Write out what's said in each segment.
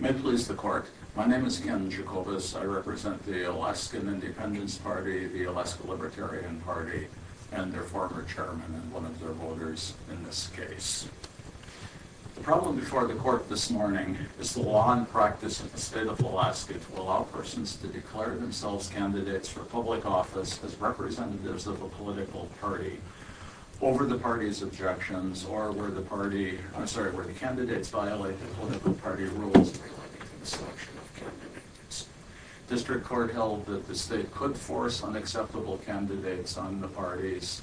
May it please the court, my name is Ken Jacobus, I represent the Alaskan Independence Party, the Alaska Libertarian Party, and their former chairman and one of their voters in this case. The problem before the court this morning is the law and practice in the state of Alaska to allow persons to declare themselves candidates for public office as representatives of a political party. Over the party's objections or where the party, I'm sorry, where the candidates violated political party rules in the selection of candidates. District Court held that the state could force unacceptable candidates on the parties.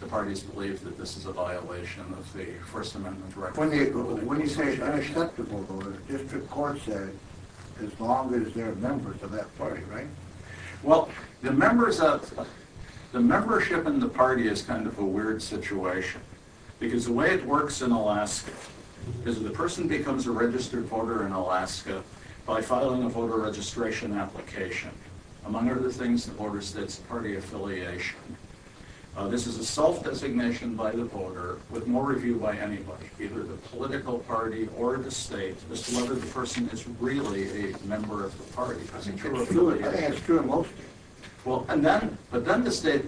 The parties believe that this is a violation of the First Amendment. When you say unacceptable, District Court said as long as they're members of that party, right? Well, the members of, the membership in the party is kind of a weird situation. Because the way it works in Alaska is the person becomes a registered voter in Alaska by filing a voter registration application. Among other things, the voter states party affiliation. This is a self-designation by the voter with more review by anybody, either the political party or the state as to whether the person is really a member of the party. I think that's true in most states. But then the state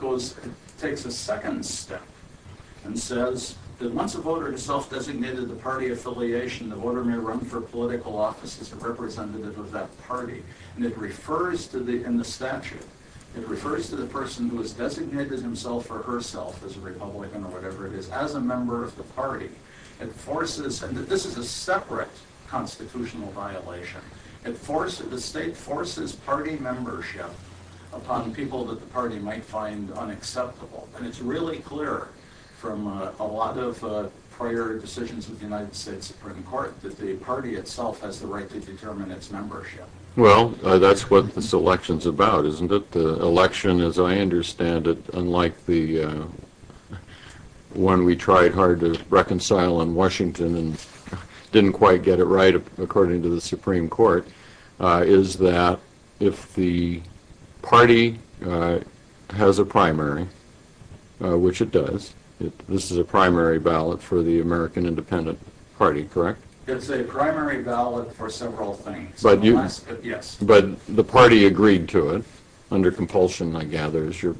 takes a second step and says that once a voter has self-designated the party affiliation, the voter may run for political office as a representative of that party. And it refers to, in the statute, it refers to the person who has designated himself or herself as a Republican or whatever it is, as a member of the party. It forces, and this is a separate constitutional violation. It forces, the state forces party membership upon people that the party might find unacceptable. And it's really clear from a lot of prior decisions with the United States Supreme Court that the party itself has the right to determine its membership. Well, that's what this election's about, isn't it? The election, as I understand it, unlike the one we tried hard to reconcile in Washington and didn't quite get it right according to the Supreme Court, is that if the party has a primary, which it does, this is a primary ballot for the American Independent Party, correct? It's a primary ballot for several things. But the party agreed to it under compulsion, I gather, is your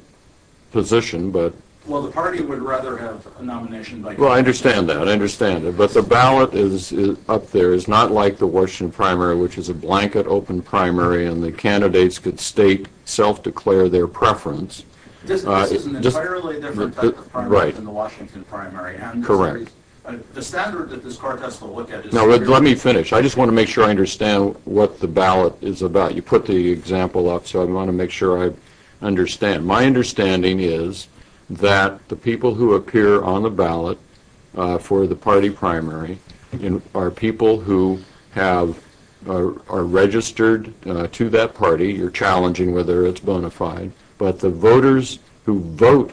position. Well, the party would rather have a nomination. Well, I understand that. I understand it. But the ballot up there is not like the Washington primary, which is a blanket open primary, and the candidates could state, self-declare their preference. This is an entirely different type of primary than the Washington primary. Correct. The standard that this court has to look at is very different. Now, let me finish. I just want to make sure I understand what the ballot is about. You put the example up, so I want to make sure I understand. My understanding is that the people who appear on the ballot for the party primary are people who are registered to that party. You're challenging whether it's bona fide. But the voters who vote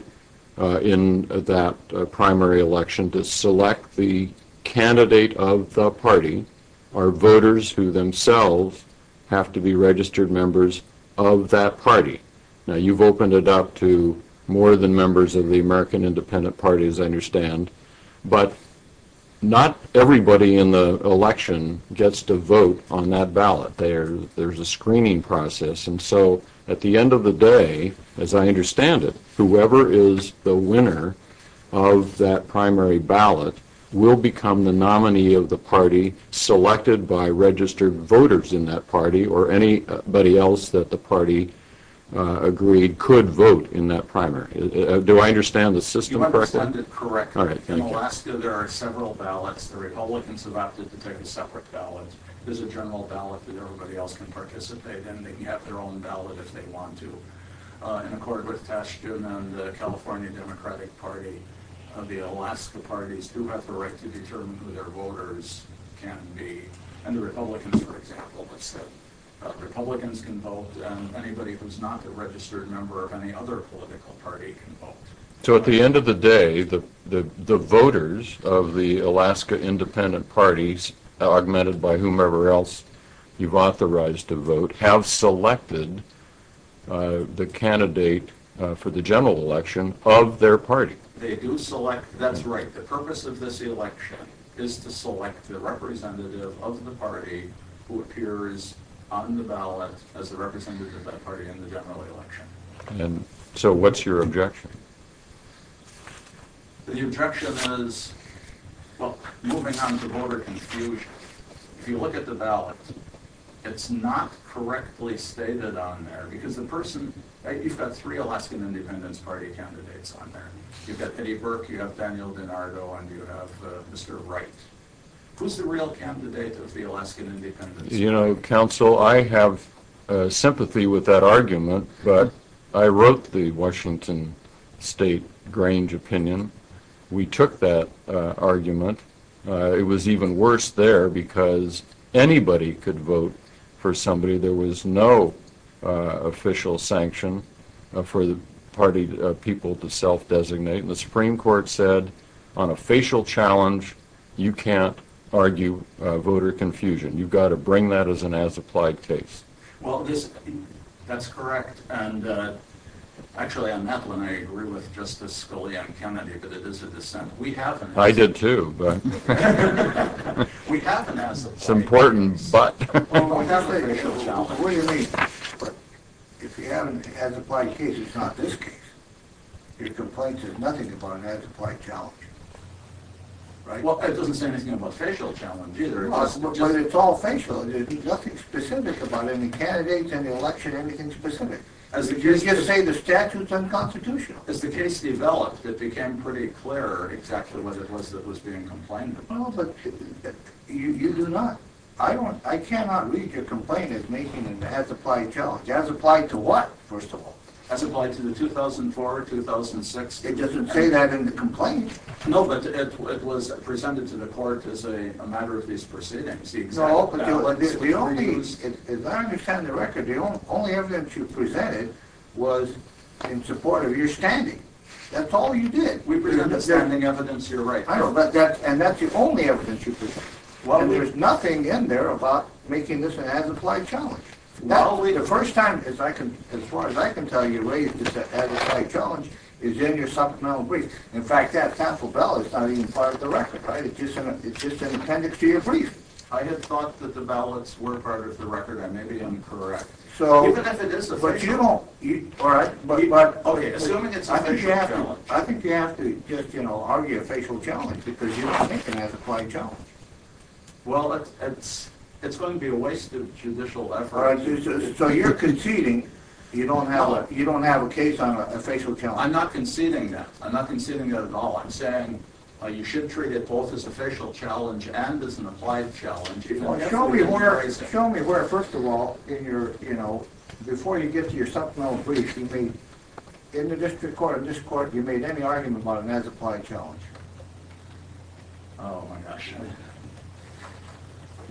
in that primary election to select the candidate of the party are voters who themselves have to be registered members of that party. Now, you've opened it up to more than members of the American Independent Party, as I understand. But not everybody in the election gets to vote on that ballot. There's a screening process. And so at the end of the day, as I understand it, whoever is the winner of that primary ballot will become the nominee of the party selected by registered voters in that party or anybody else that the party agreed could vote in that primary. Do I understand the system correctly? You understand it correctly. All right. Thank you. In Alaska, there are several ballots. The Republicans have opted to take separate ballots. There's a general ballot that everybody else can participate in. They can have their own ballot if they want to. In accord with Tashkent and the California Democratic Party, the Alaska parties do have the right to determine who their voters can be. And the Republicans, for example, have said Republicans can vote and anybody who's not a registered member of any other political party can vote. So at the end of the day, the voters of the Alaska Independent Party, augmented by whomever else you've authorized to vote, have selected the candidate for the general election of their party. They do select. That's right. The purpose of this election is to select the representative of the party who appears on the ballot as the representative of that party in the general election. And so what's your objection? The objection is, well, moving on to voter confusion, if you look at the ballot, it's not correctly stated on there because the person, you've got three Alaskan Independence Party candidates on there. You've got Eddie Burke, you have Daniel DiNardo, and you have Mr. Wright. Who's the real candidate of the Alaskan Independence Party? You know, counsel, I have sympathy with that argument, but I wrote the Washington State Grange opinion. We took that argument. It was even worse there because anybody could vote for somebody. There was no official sanction for the party people to self-designate. And the Supreme Court said on a facial challenge, you can't argue voter confusion. You've got to bring that as an as-applied case. Well, that's correct. And actually, on that one, I agree with Justice Scalia and Kennedy, but it is a dissent. I did, too. We have an as-applied case. It's important, but. What do you mean? If you have an as-applied case, it's not this case. Your complaint says nothing about an as-applied challenge. Well, it doesn't say anything about a facial challenge, either. But it's all facial. There's nothing specific about any candidates, any election, anything specific. You just say the statute's unconstitutional. As the case developed, it became pretty clear exactly what it was that was being complained about. Well, but you do not. I cannot read your complaint as making an as-applied challenge. As applied to what, first of all? As applied to the 2004, 2006. It doesn't say that in the complaint. No, but it was presented to the court as a matter of these proceedings. No, but as I understand the record, the only evidence you presented was in support of your standing. That's all you did. We're presenting evidence you're right. And that's the only evidence you presented. There's nothing in there about making this an as-applied challenge. The first time, as far as I can tell, you raised this as-applied challenge is in your supplemental brief. In fact, that tassel bell is not even part of the record. It's just an appendix to your brief. I had thought that the ballots were part of the record. I may be incorrect. Even if it is official. But you don't. All right. Okay, assuming it's official challenge. I think you have to just argue official challenge because you don't think it's an as-applied challenge. Well, it's going to be a waste of judicial effort. All right, so you're conceding you don't have a case on official challenge. I'm not conceding that. I'm not conceding that at all. I'm saying you should treat it both as official challenge and as an applied challenge. Show me where, first of all, in your, you know, before you get to your supplemental brief, in the district court, you made any argument about an as-applied challenge. Oh, my gosh.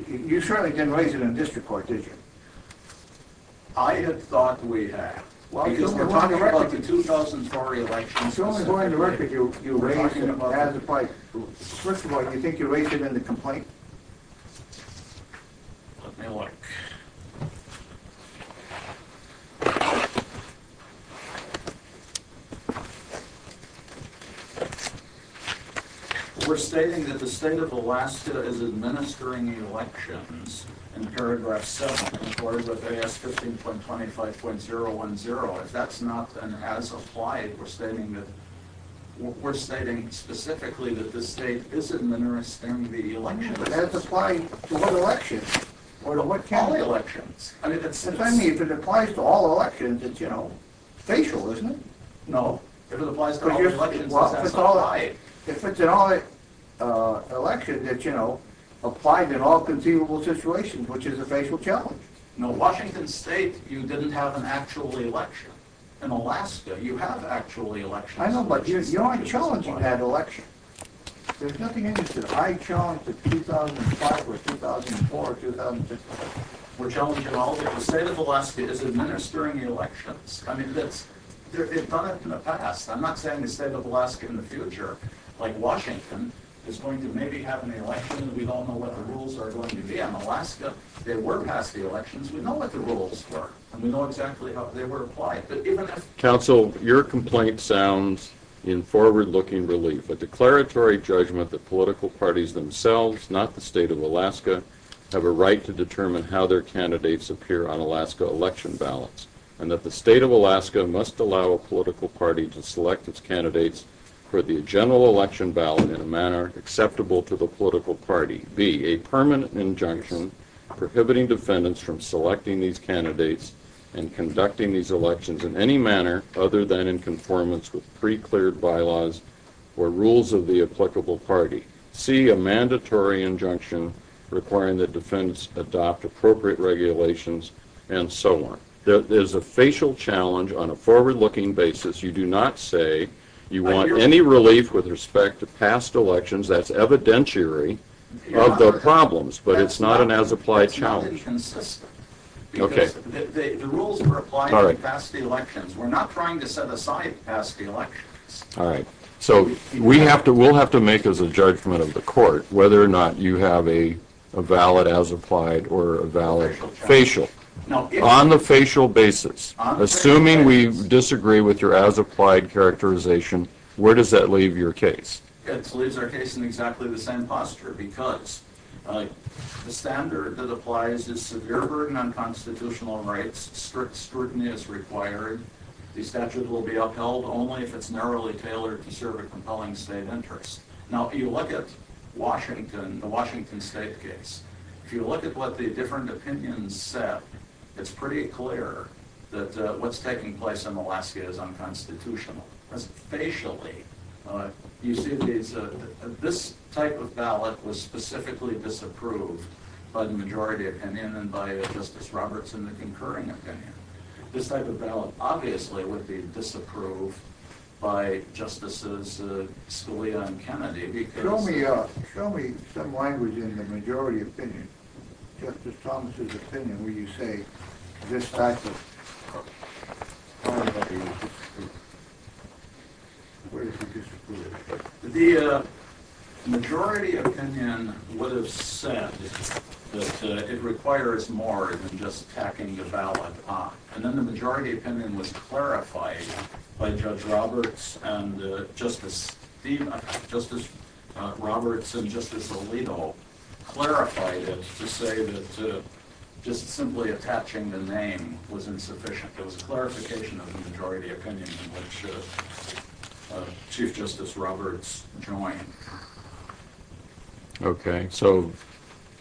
You certainly didn't raise it in the district court, did you? I had thought we had. Because we're talking about the 2004 elections. You're only going to record you raising it as applied. First of all, do you think you raised it in the complaint? Let me look. We're stating that the state of Alaska is administering elections in paragraph 7 in accordance with AS 15.25.010. If that's not an as-applied, we're stating that, we're stating specifically that the state is administering the elections. Yeah, but as-applied to what elections? Or to what county elections? If it applies to all elections, it's, you know, facial, isn't it? No. If it applies to all elections, it's as-applied. Well, if it's an election that, you know, applies in all conceivable situations, which is a facial challenge. No, Washington State, you didn't have an actual election. In Alaska, you have an actual election. I know, but you're not challenging that election. There's nothing in it that I challenged in 2005 or 2004 or 2006. We're challenging all of it. The state of Alaska is administering the elections. I mean, they've done it in the past. I'm not saying the state of Alaska in the future, like Washington, is going to maybe have an election. We don't know what the rules are going to be. In Alaska, they were passed the elections. We know what the rules were, and we know exactly how they were applied. But even if- Counsel, your complaint sounds in forward-looking relief. A declaratory judgment that political parties themselves, not the state of Alaska, have a right to determine how their candidates appear on Alaska election ballots, and that the state of Alaska must allow a political party to select its candidates for the general election ballot in a manner acceptable to the political party. B, a permanent injunction prohibiting defendants from selecting these candidates and conducting these elections in any manner other than in conformance with pre-cleared bylaws or rules of the applicable party. C, a mandatory injunction requiring that defendants adopt appropriate regulations, and so on. There's a facial challenge on a forward-looking basis. You do not say you want any relief with respect to past elections. That's evidentiary of the problems, but it's not an as-applied challenge. That's not inconsistent because the rules were applied in past elections. We're not trying to set aside past elections. All right, so we'll have to make as a judgment of the court whether or not you have a valid as-applied or a valid facial. On the facial basis, assuming we disagree with your as-applied characterization, where does that leave your case? It leaves our case in exactly the same posture because the standard that applies is severe burden on constitutional rights, strict scrutiny is required, the statute will be upheld only if it's narrowly tailored to serve a compelling state interest. Now, if you look at Washington, the Washington State case, if you look at what the different opinions said, it's pretty clear that what's taking place in Alaska is unconstitutional. That's facially. You see, this type of ballot was specifically disapproved by the majority opinion and by Justice Roberts in the concurring opinion. This type of ballot, obviously, would be disapproved by Justices Scalia and Kennedy because Show me some language in the majority opinion, Justice Thomas' opinion, where you say this type of ballot would be disapproved. Where is the disapproval? The majority opinion would have said that it requires more than just tacking the ballot on. And then the majority opinion was clarified by Judge Roberts and Justice Roberts and Justice Alito clarified it to say that just simply attaching the name was insufficient. It was a clarification of the majority opinion in which Chief Justice Roberts joined. Okay. So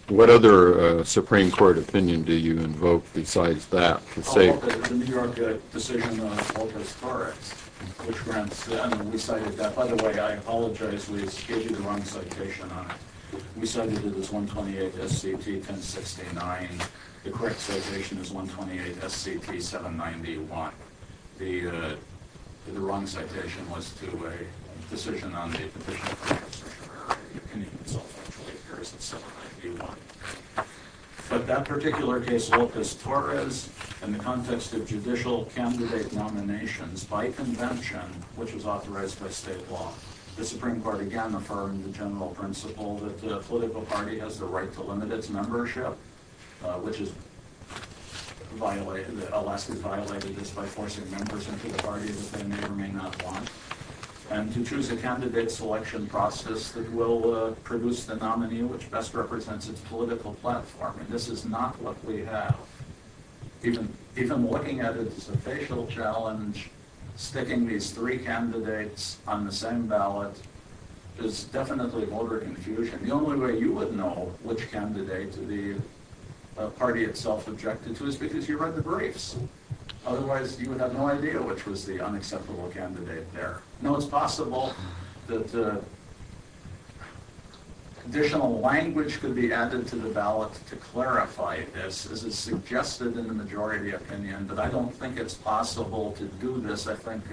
what other Supreme Court opinion do you invoke besides that? The New York decision on Opus Taurus, which grants them, we cited that. By the way, I apologize. We gave you the wrong citation on it. We cited it as 128 S.C.T. 1069. The correct citation is 128 S.C.T. 791. The wrong citation was to a decision on the petition of the Constitution of America. The opinion itself actually appears at 791. But that particular case, Opus Taurus, in the context of judicial candidate nominations by convention, which was authorized by state law, the Supreme Court again affirmed the general principle that the political party has the right to limit its membership. Alaska violated this by forcing members into the party that they may or may not want. And to choose a candidate selection process that will produce the nominee which best represents its political platform. And this is not what we have. Even looking at it as a facial challenge, sticking these three candidates on the same ballot, is definitely voter confusion. The only way you would know which candidate the party itself objected to is because you read the briefs. Otherwise, you would have no idea which was the unacceptable candidate there. Now, it's possible that additional language could be added to the ballot to clarify this, as is suggested in the majority opinion, but I don't think it's possible to do this. I think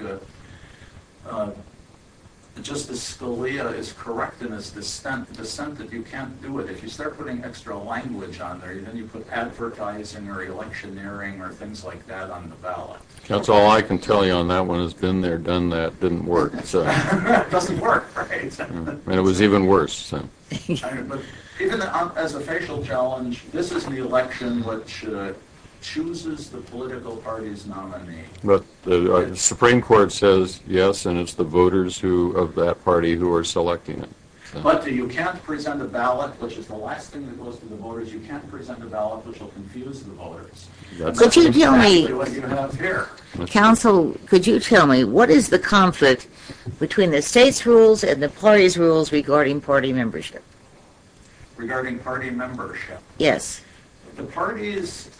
Justice Scalia is correct in his dissent that you can't do it. If you start putting extra language on there, then you put advertising or electioneering or things like that on the ballot. That's all I can tell you on that one. It's been there, done that, didn't work. It doesn't work, right? And it was even worse. But even as a facial challenge, this is the election which chooses the political party's nominee. But the Supreme Court says yes, and it's the voters of that party who are selecting it. But you can't present a ballot which is the last thing you post to the voters. You can't present a ballot which will confuse the voters. That's exactly what you have here. Counsel, could you tell me, what is the conflict between the state's rules and the party's rules regarding party membership? Regarding party membership? Yes. The parties...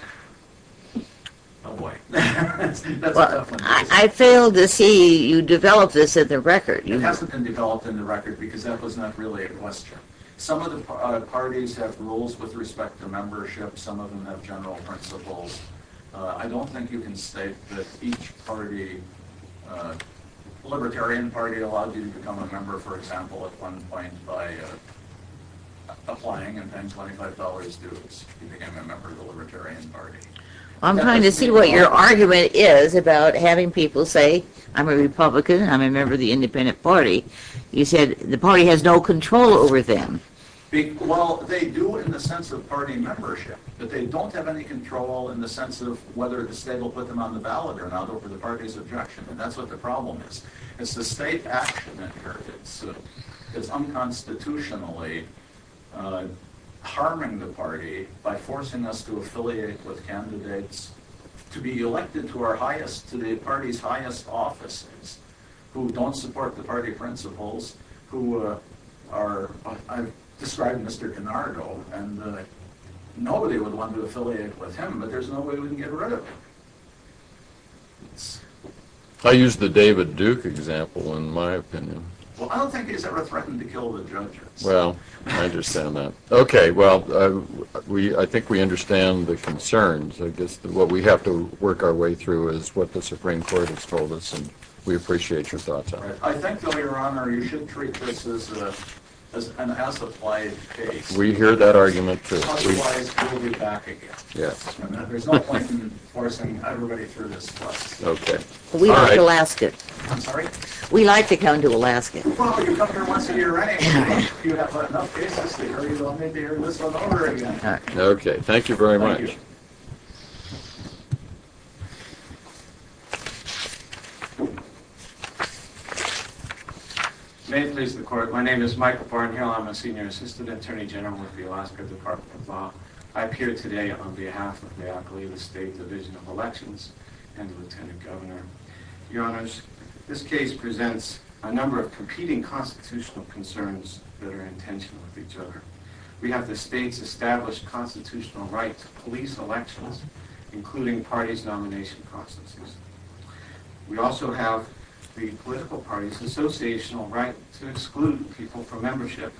Oh, boy. I failed to see you develop this in the record. It hasn't been developed in the record because that was not really a question. Some of the parties have rules with respect to membership. Some of them have general principles. I don't think you can state that each party... You become a member, for example, at one point by applying and paying $25 dues. You become a member of the Libertarian Party. I'm trying to see what your argument is about having people say, I'm a Republican and I'm a member of the Independent Party. You said the party has no control over them. Well, they do in the sense of party membership. But they don't have any control in the sense of whether the state will put them on the ballot or not over the party's objection. And that's what the problem is. It's the state action that hurts. It's unconstitutionally harming the party by forcing us to affiliate with candidates to be elected to the party's highest offices who don't support the party principles, who are... I've described Mr. Canardo, and nobody would want to affiliate with him, but there's no way we can get rid of him. Thanks. I use the David Duke example, in my opinion. Well, I don't think he's ever threatened to kill the judges. Well, I understand that. Okay, well, I think we understand the concerns. I guess what we have to work our way through is what the Supreme Court has told us, and we appreciate your thoughts on it. I think, though, Your Honor, you should treat this as an as-applied case. We hear that argument. Otherwise, he will be back again. There's no point in forcing everybody through this process. Okay. We like Alaska. I'm sorry? We like to come to Alaska. Well, you come here once a year, right? If you have enough cases to hear, you will maybe hear this one over again. Okay, thank you very much. Thank you. May it please the Court. My name is Michael Barnhill. I'm a senior assistant attorney general with the Alaska Department of Law. I appear today on behalf of the Alkaline State Division of Elections and the lieutenant governor. Your Honors, this case presents a number of competing constitutional concerns that are in tension with each other. We have the state's established constitutional right to police elections, including parties' nomination processes. We also have the political party's associational right to exclude people from membership,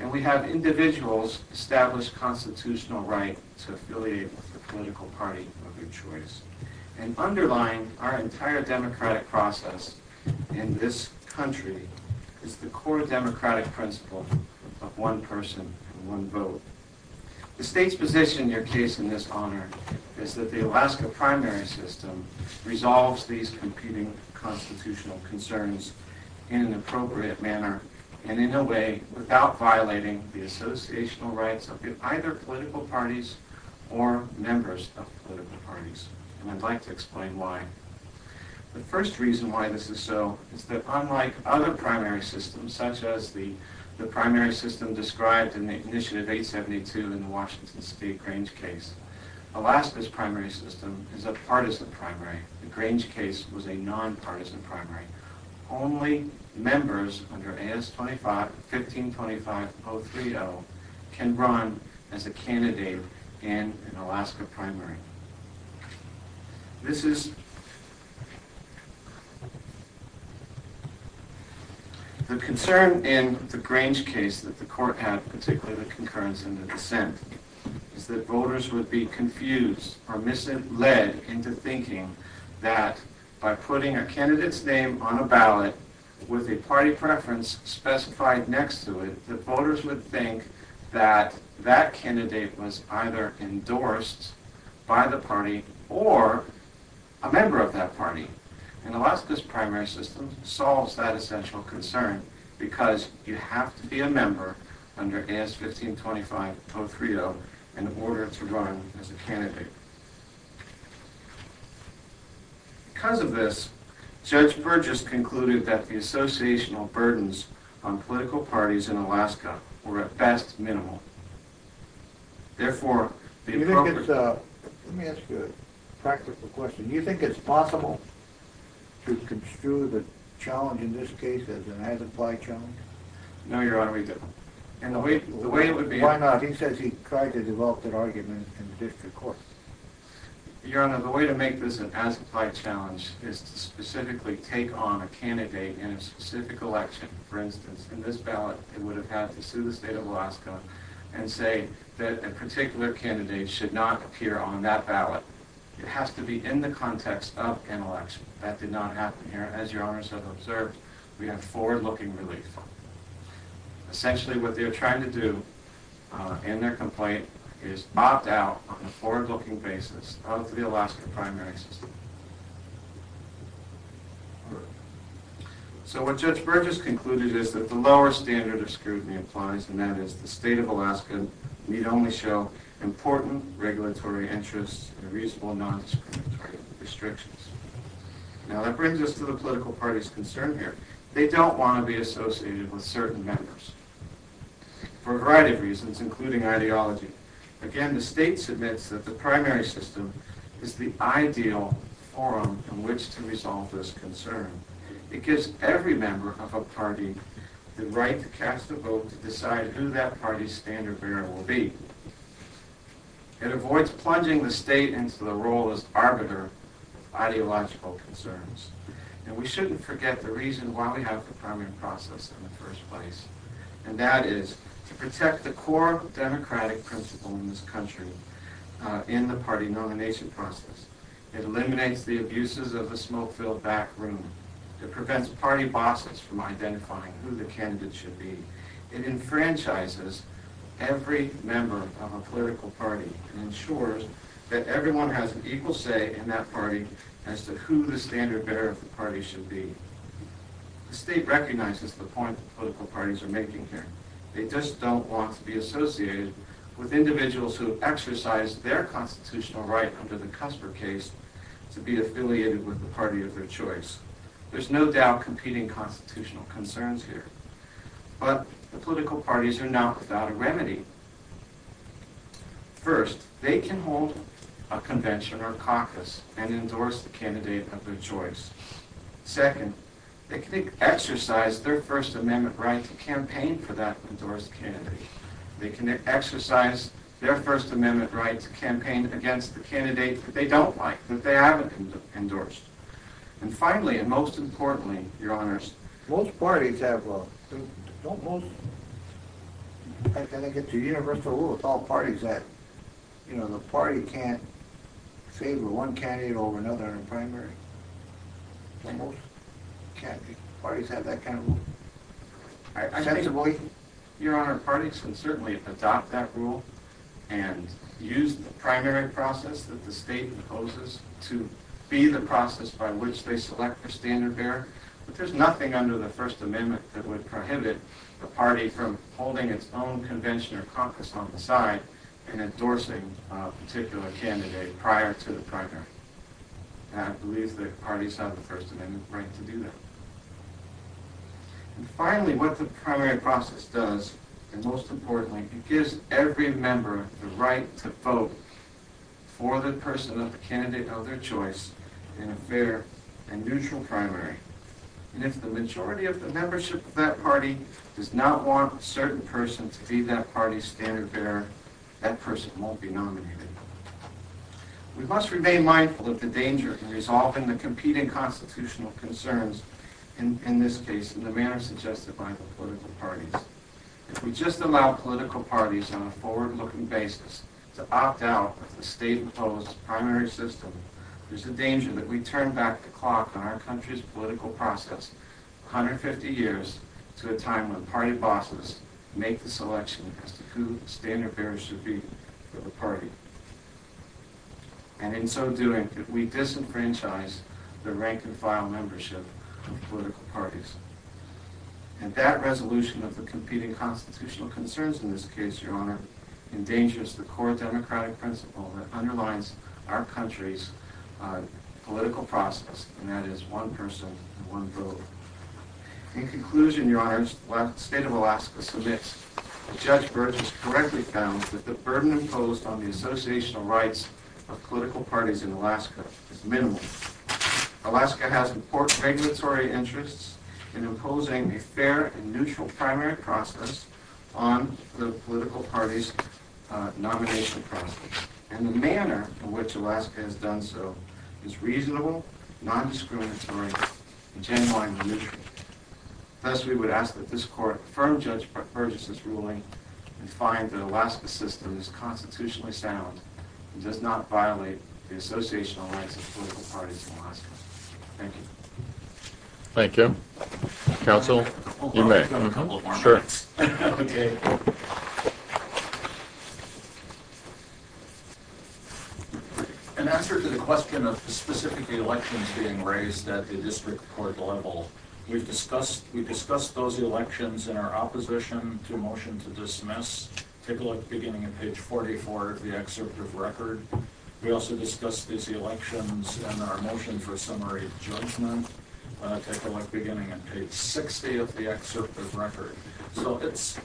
and we have individuals' established constitutional right to affiliate with the political party of their choice. And underlying our entire democratic process in this country is the core democratic principle of one person and one vote. The state's position in your case in this honor is that the Alaska primary system resolves these competing constitutional concerns in an appropriate manner and in a way without violating the associational rights of either political parties or members of political parties, and I'd like to explain why. The first reason why this is so is that unlike other primary systems, such as the primary system described in the initiative 872 in the Washington State Grange case, Alaska's primary system is a partisan primary. The Grange case was a nonpartisan primary. Only members under A.S. 1525.030 can run as a candidate in an Alaska primary. The concern in the Grange case that the court had, particularly the concurrence and the dissent, is that voters would be confused or misled into thinking that by putting a candidate's name on a ballot with a party preference specified next to it, that voters would think that that candidate was either endorsed by the party or a member of that party. And Alaska's primary system solves that essential concern because you have to be a member under A.S. 1525.030 in order to run as a candidate. Because of this, Judge Burgess concluded that the associational burdens on political parties in Alaska were at best minimal. Therefore, the appropriate... Let me ask you a practical question. Do you think it's possible to construe the challenge in this case as an as-implied challenge? No, Your Honor, we don't. Why not? He says he tried to develop an argument in the district court. Your Honor, the way to make this an as-implied challenge is to specifically take on a candidate in a specific election. For instance, in this ballot, they would have had to sue the state of Alaska and say that a particular candidate should not appear on that ballot. It has to be in the context of an election. That did not happen here. As Your Honors have observed, we have forward-looking relief. Essentially, what they are trying to do in their complaint is opt out on a forward-looking basis of the Alaska primary system. So what Judge Burgess concluded is that the lower standard of scrutiny applies, and that is the state of Alaska need only show important regulatory interests and reasonable non-discriminatory restrictions. Now, that brings us to the political party's concern here. They don't want to be associated with certain members for a variety of reasons, including ideology. Again, the state submits that the primary system is the ideal forum in which to resolve this concern. It gives every member of a party the right to cast a vote to decide who that party's standard bearer will be. It avoids plunging the state into the role as the arbiter of ideological concerns. And we shouldn't forget the reason why we have the primary process in the first place, and that is to protect the core democratic principle in this country in the party nomination process. It eliminates the abuses of the smoke-filled back room. It prevents party bosses from identifying who the candidate should be. It enfranchises every member of a political party and ensures that everyone has an equal say in that party as to who the standard bearer of the party should be. The state recognizes the point that political parties are making here. They just don't want to be associated with individuals who have exercised their constitutional right under the Cusper case to be affiliated with the party of their choice. There's no doubt competing constitutional concerns here. But the political parties are now without a remedy. First, they can hold a convention or a caucus and endorse the candidate of their choice. Second, they can exercise their First Amendment right to campaign for that endorsed candidate. They can exercise their First Amendment right to campaign against the candidate that they don't like, that they haven't endorsed. And finally, and most importantly, Your Honors, most parties have a... Don't most... I think it's a universal rule with all parties that the party can't favor one candidate over another in a primary. Don't most parties have that kind of rule? Your Honor, parties can certainly adopt that rule and use the primary process that the state imposes to be the process by which they select their standard bearer. But there's nothing under the First Amendment that would prohibit a party from holding its own convention or caucus on the side and endorsing a particular candidate prior to the primary. And I believe that parties have the First Amendment right to do that. And finally, what the primary process does, and most importantly, it gives every member the right to vote for the person of the candidate of their choice in a fair and neutral primary. And if the majority of the membership of that party does not want a certain person to be that party's standard bearer, that person won't be nominated. We must remain mindful of the danger in resolving the competing constitutional concerns in this case in the manner suggested by the political parties. If we just allow political parties on a forward-looking basis to opt out of the state-imposed primary system, there's a danger that we turn back the clock on our country's political process 150 years to a time when party bosses make the selection as to who the standard bearer should be for the party. And in so doing, we disenfranchise the rank-and-file membership of political parties. And that resolution of the competing constitutional concerns in this case, Your Honor, endangers the core democratic principle that underlines our country's political process, and that is one person, one vote. In conclusion, Your Honor, the state of Alaska submits that Judge Burgess correctly found that the burden imposed on the associational rights of political parties in Alaska is minimal. Alaska has important regulatory interests in imposing a fair and neutral primary process on the political parties' nomination process. And the manner in which Alaska has done so is reasonable, non-discriminatory, and genuinely neutral. Thus, we would ask that this Court affirm Judge Burgess' ruling and find that Alaska's system is constitutionally sound and does not violate the associational rights of political parties in Alaska. Thank you. Thank you. Counsel, you may. Sure. In answer to the question of specifically elections being raised at the district court level, we've discussed those elections in our opposition to motion to dismiss. Take a look beginning at page 44 of the excerpt of record. We also discussed these elections in our motion for summary judgment. Take a look beginning at page 60 of the excerpt of record. So it's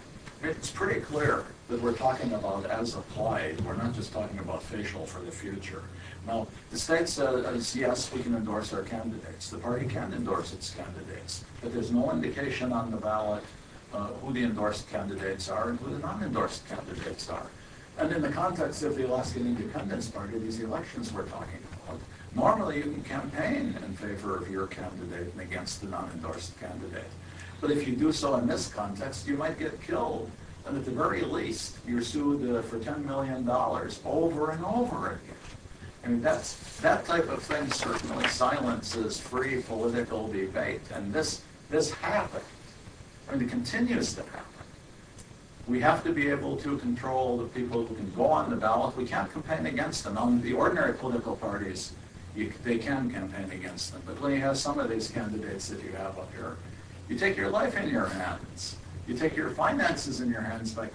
pretty clear that we're talking about as applied. We're not just talking about facial for the future. Now, the state says, yes, we can endorse our candidates. The party can endorse its candidates. But there's no indication on the ballot who the endorsed candidates are and who the non-endorsed candidates are. And in the context of the Alaskan Independence Party, these elections we're talking about, normally you can campaign in favor of your candidate and against the non-endorsed candidate. But if you do so in this context, you might get killed. And at the very least, you're sued for $10 million over and over again. I mean, that type of thing certainly silences free political debate. And this happened. And it continues to happen. We have to be able to control the people who can go on the ballot. We can't campaign against them. The ordinary political parties, they can campaign against them. But when you have some of these candidates that you have up here, you take your life in your hands. You take your finances in your hands by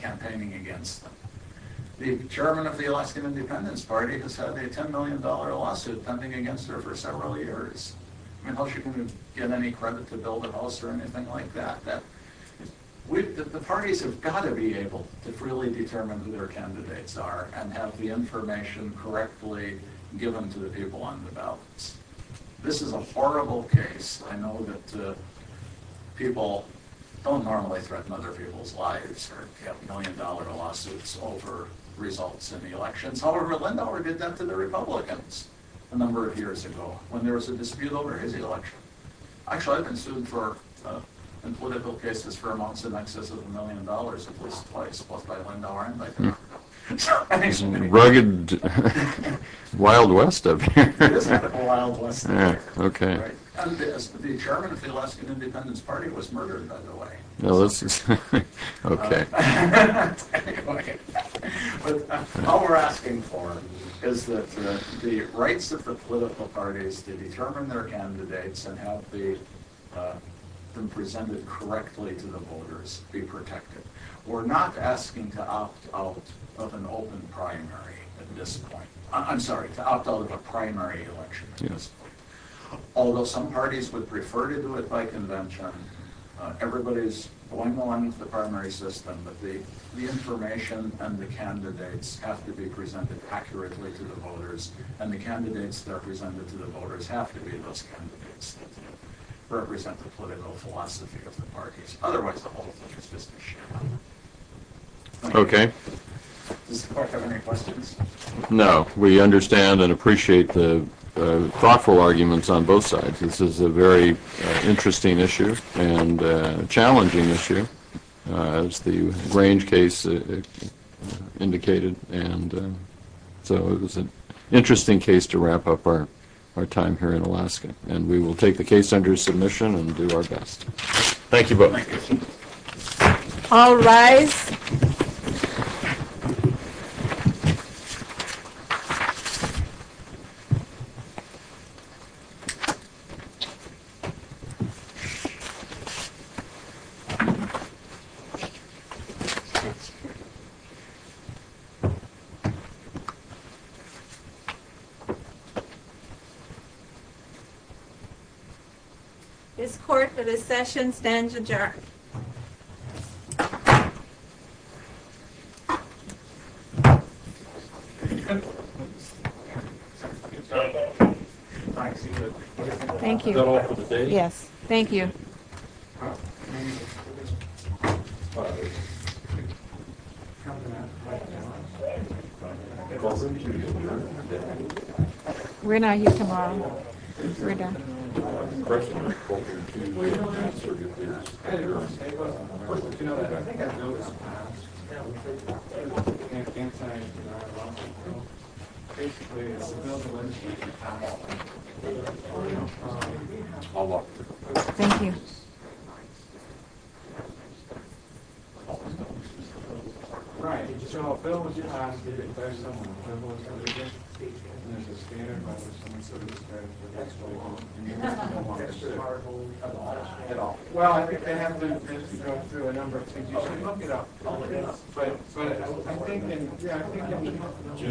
campaigning against them. The chairman of the Alaskan Independence Party has had a $10 million lawsuit pending against her for several years. I mean, how is she going to get any credit to build a house or anything like that? The parties have got to be able to really determine who their candidates are and have the information correctly given to the people on the ballots. This is a horrible case. I know that people don't normally threaten other people's lives if you have million-dollar lawsuits over results in the elections. However, Lindauer did that to the Republicans a number of years ago when there was a dispute over his election. Actually, I've been sued in political cases for amounts in excess of a million dollars, at least twice, both by Lindauer and by Lindauer. He's a rugged wild west of you. He is a wild west of me. The chairman of the Alaskan Independence Party was murdered, by the way. All we're asking for is that the rights of the political parties to determine their candidates and have them presented correctly to the voters be protected. We're not asking to opt out of an open primary at this point. I'm sorry, to opt out of a primary election at this point. Although some parties would prefer to do it by convention, everybody's going along with the primary system, but the information and the candidates have to be presented accurately to the voters, and the candidates that are presented to the voters have to be those candidates that represent the political philosophy of the parties. Otherwise, the whole thing is just a sham. Okay. Does the clerk have any questions? No. We understand and appreciate the thoughtful arguments on both sides. This is a very interesting issue and a challenging issue, as the Grange case indicated, and so it was an interesting case to wrap up our time here in Alaska, and we will take the case under submission and do our best. Thank you both. All rise. Thank you. This court for this session stands adjourned. Thank you. Is that all for today? Yes. Thank you. We're not here tomorrow. We're done. Thank you. Thank you.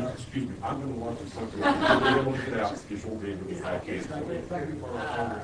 Excuse me. I'm going to watch this. I want to get out before the end of this case. Thank you. Thank you.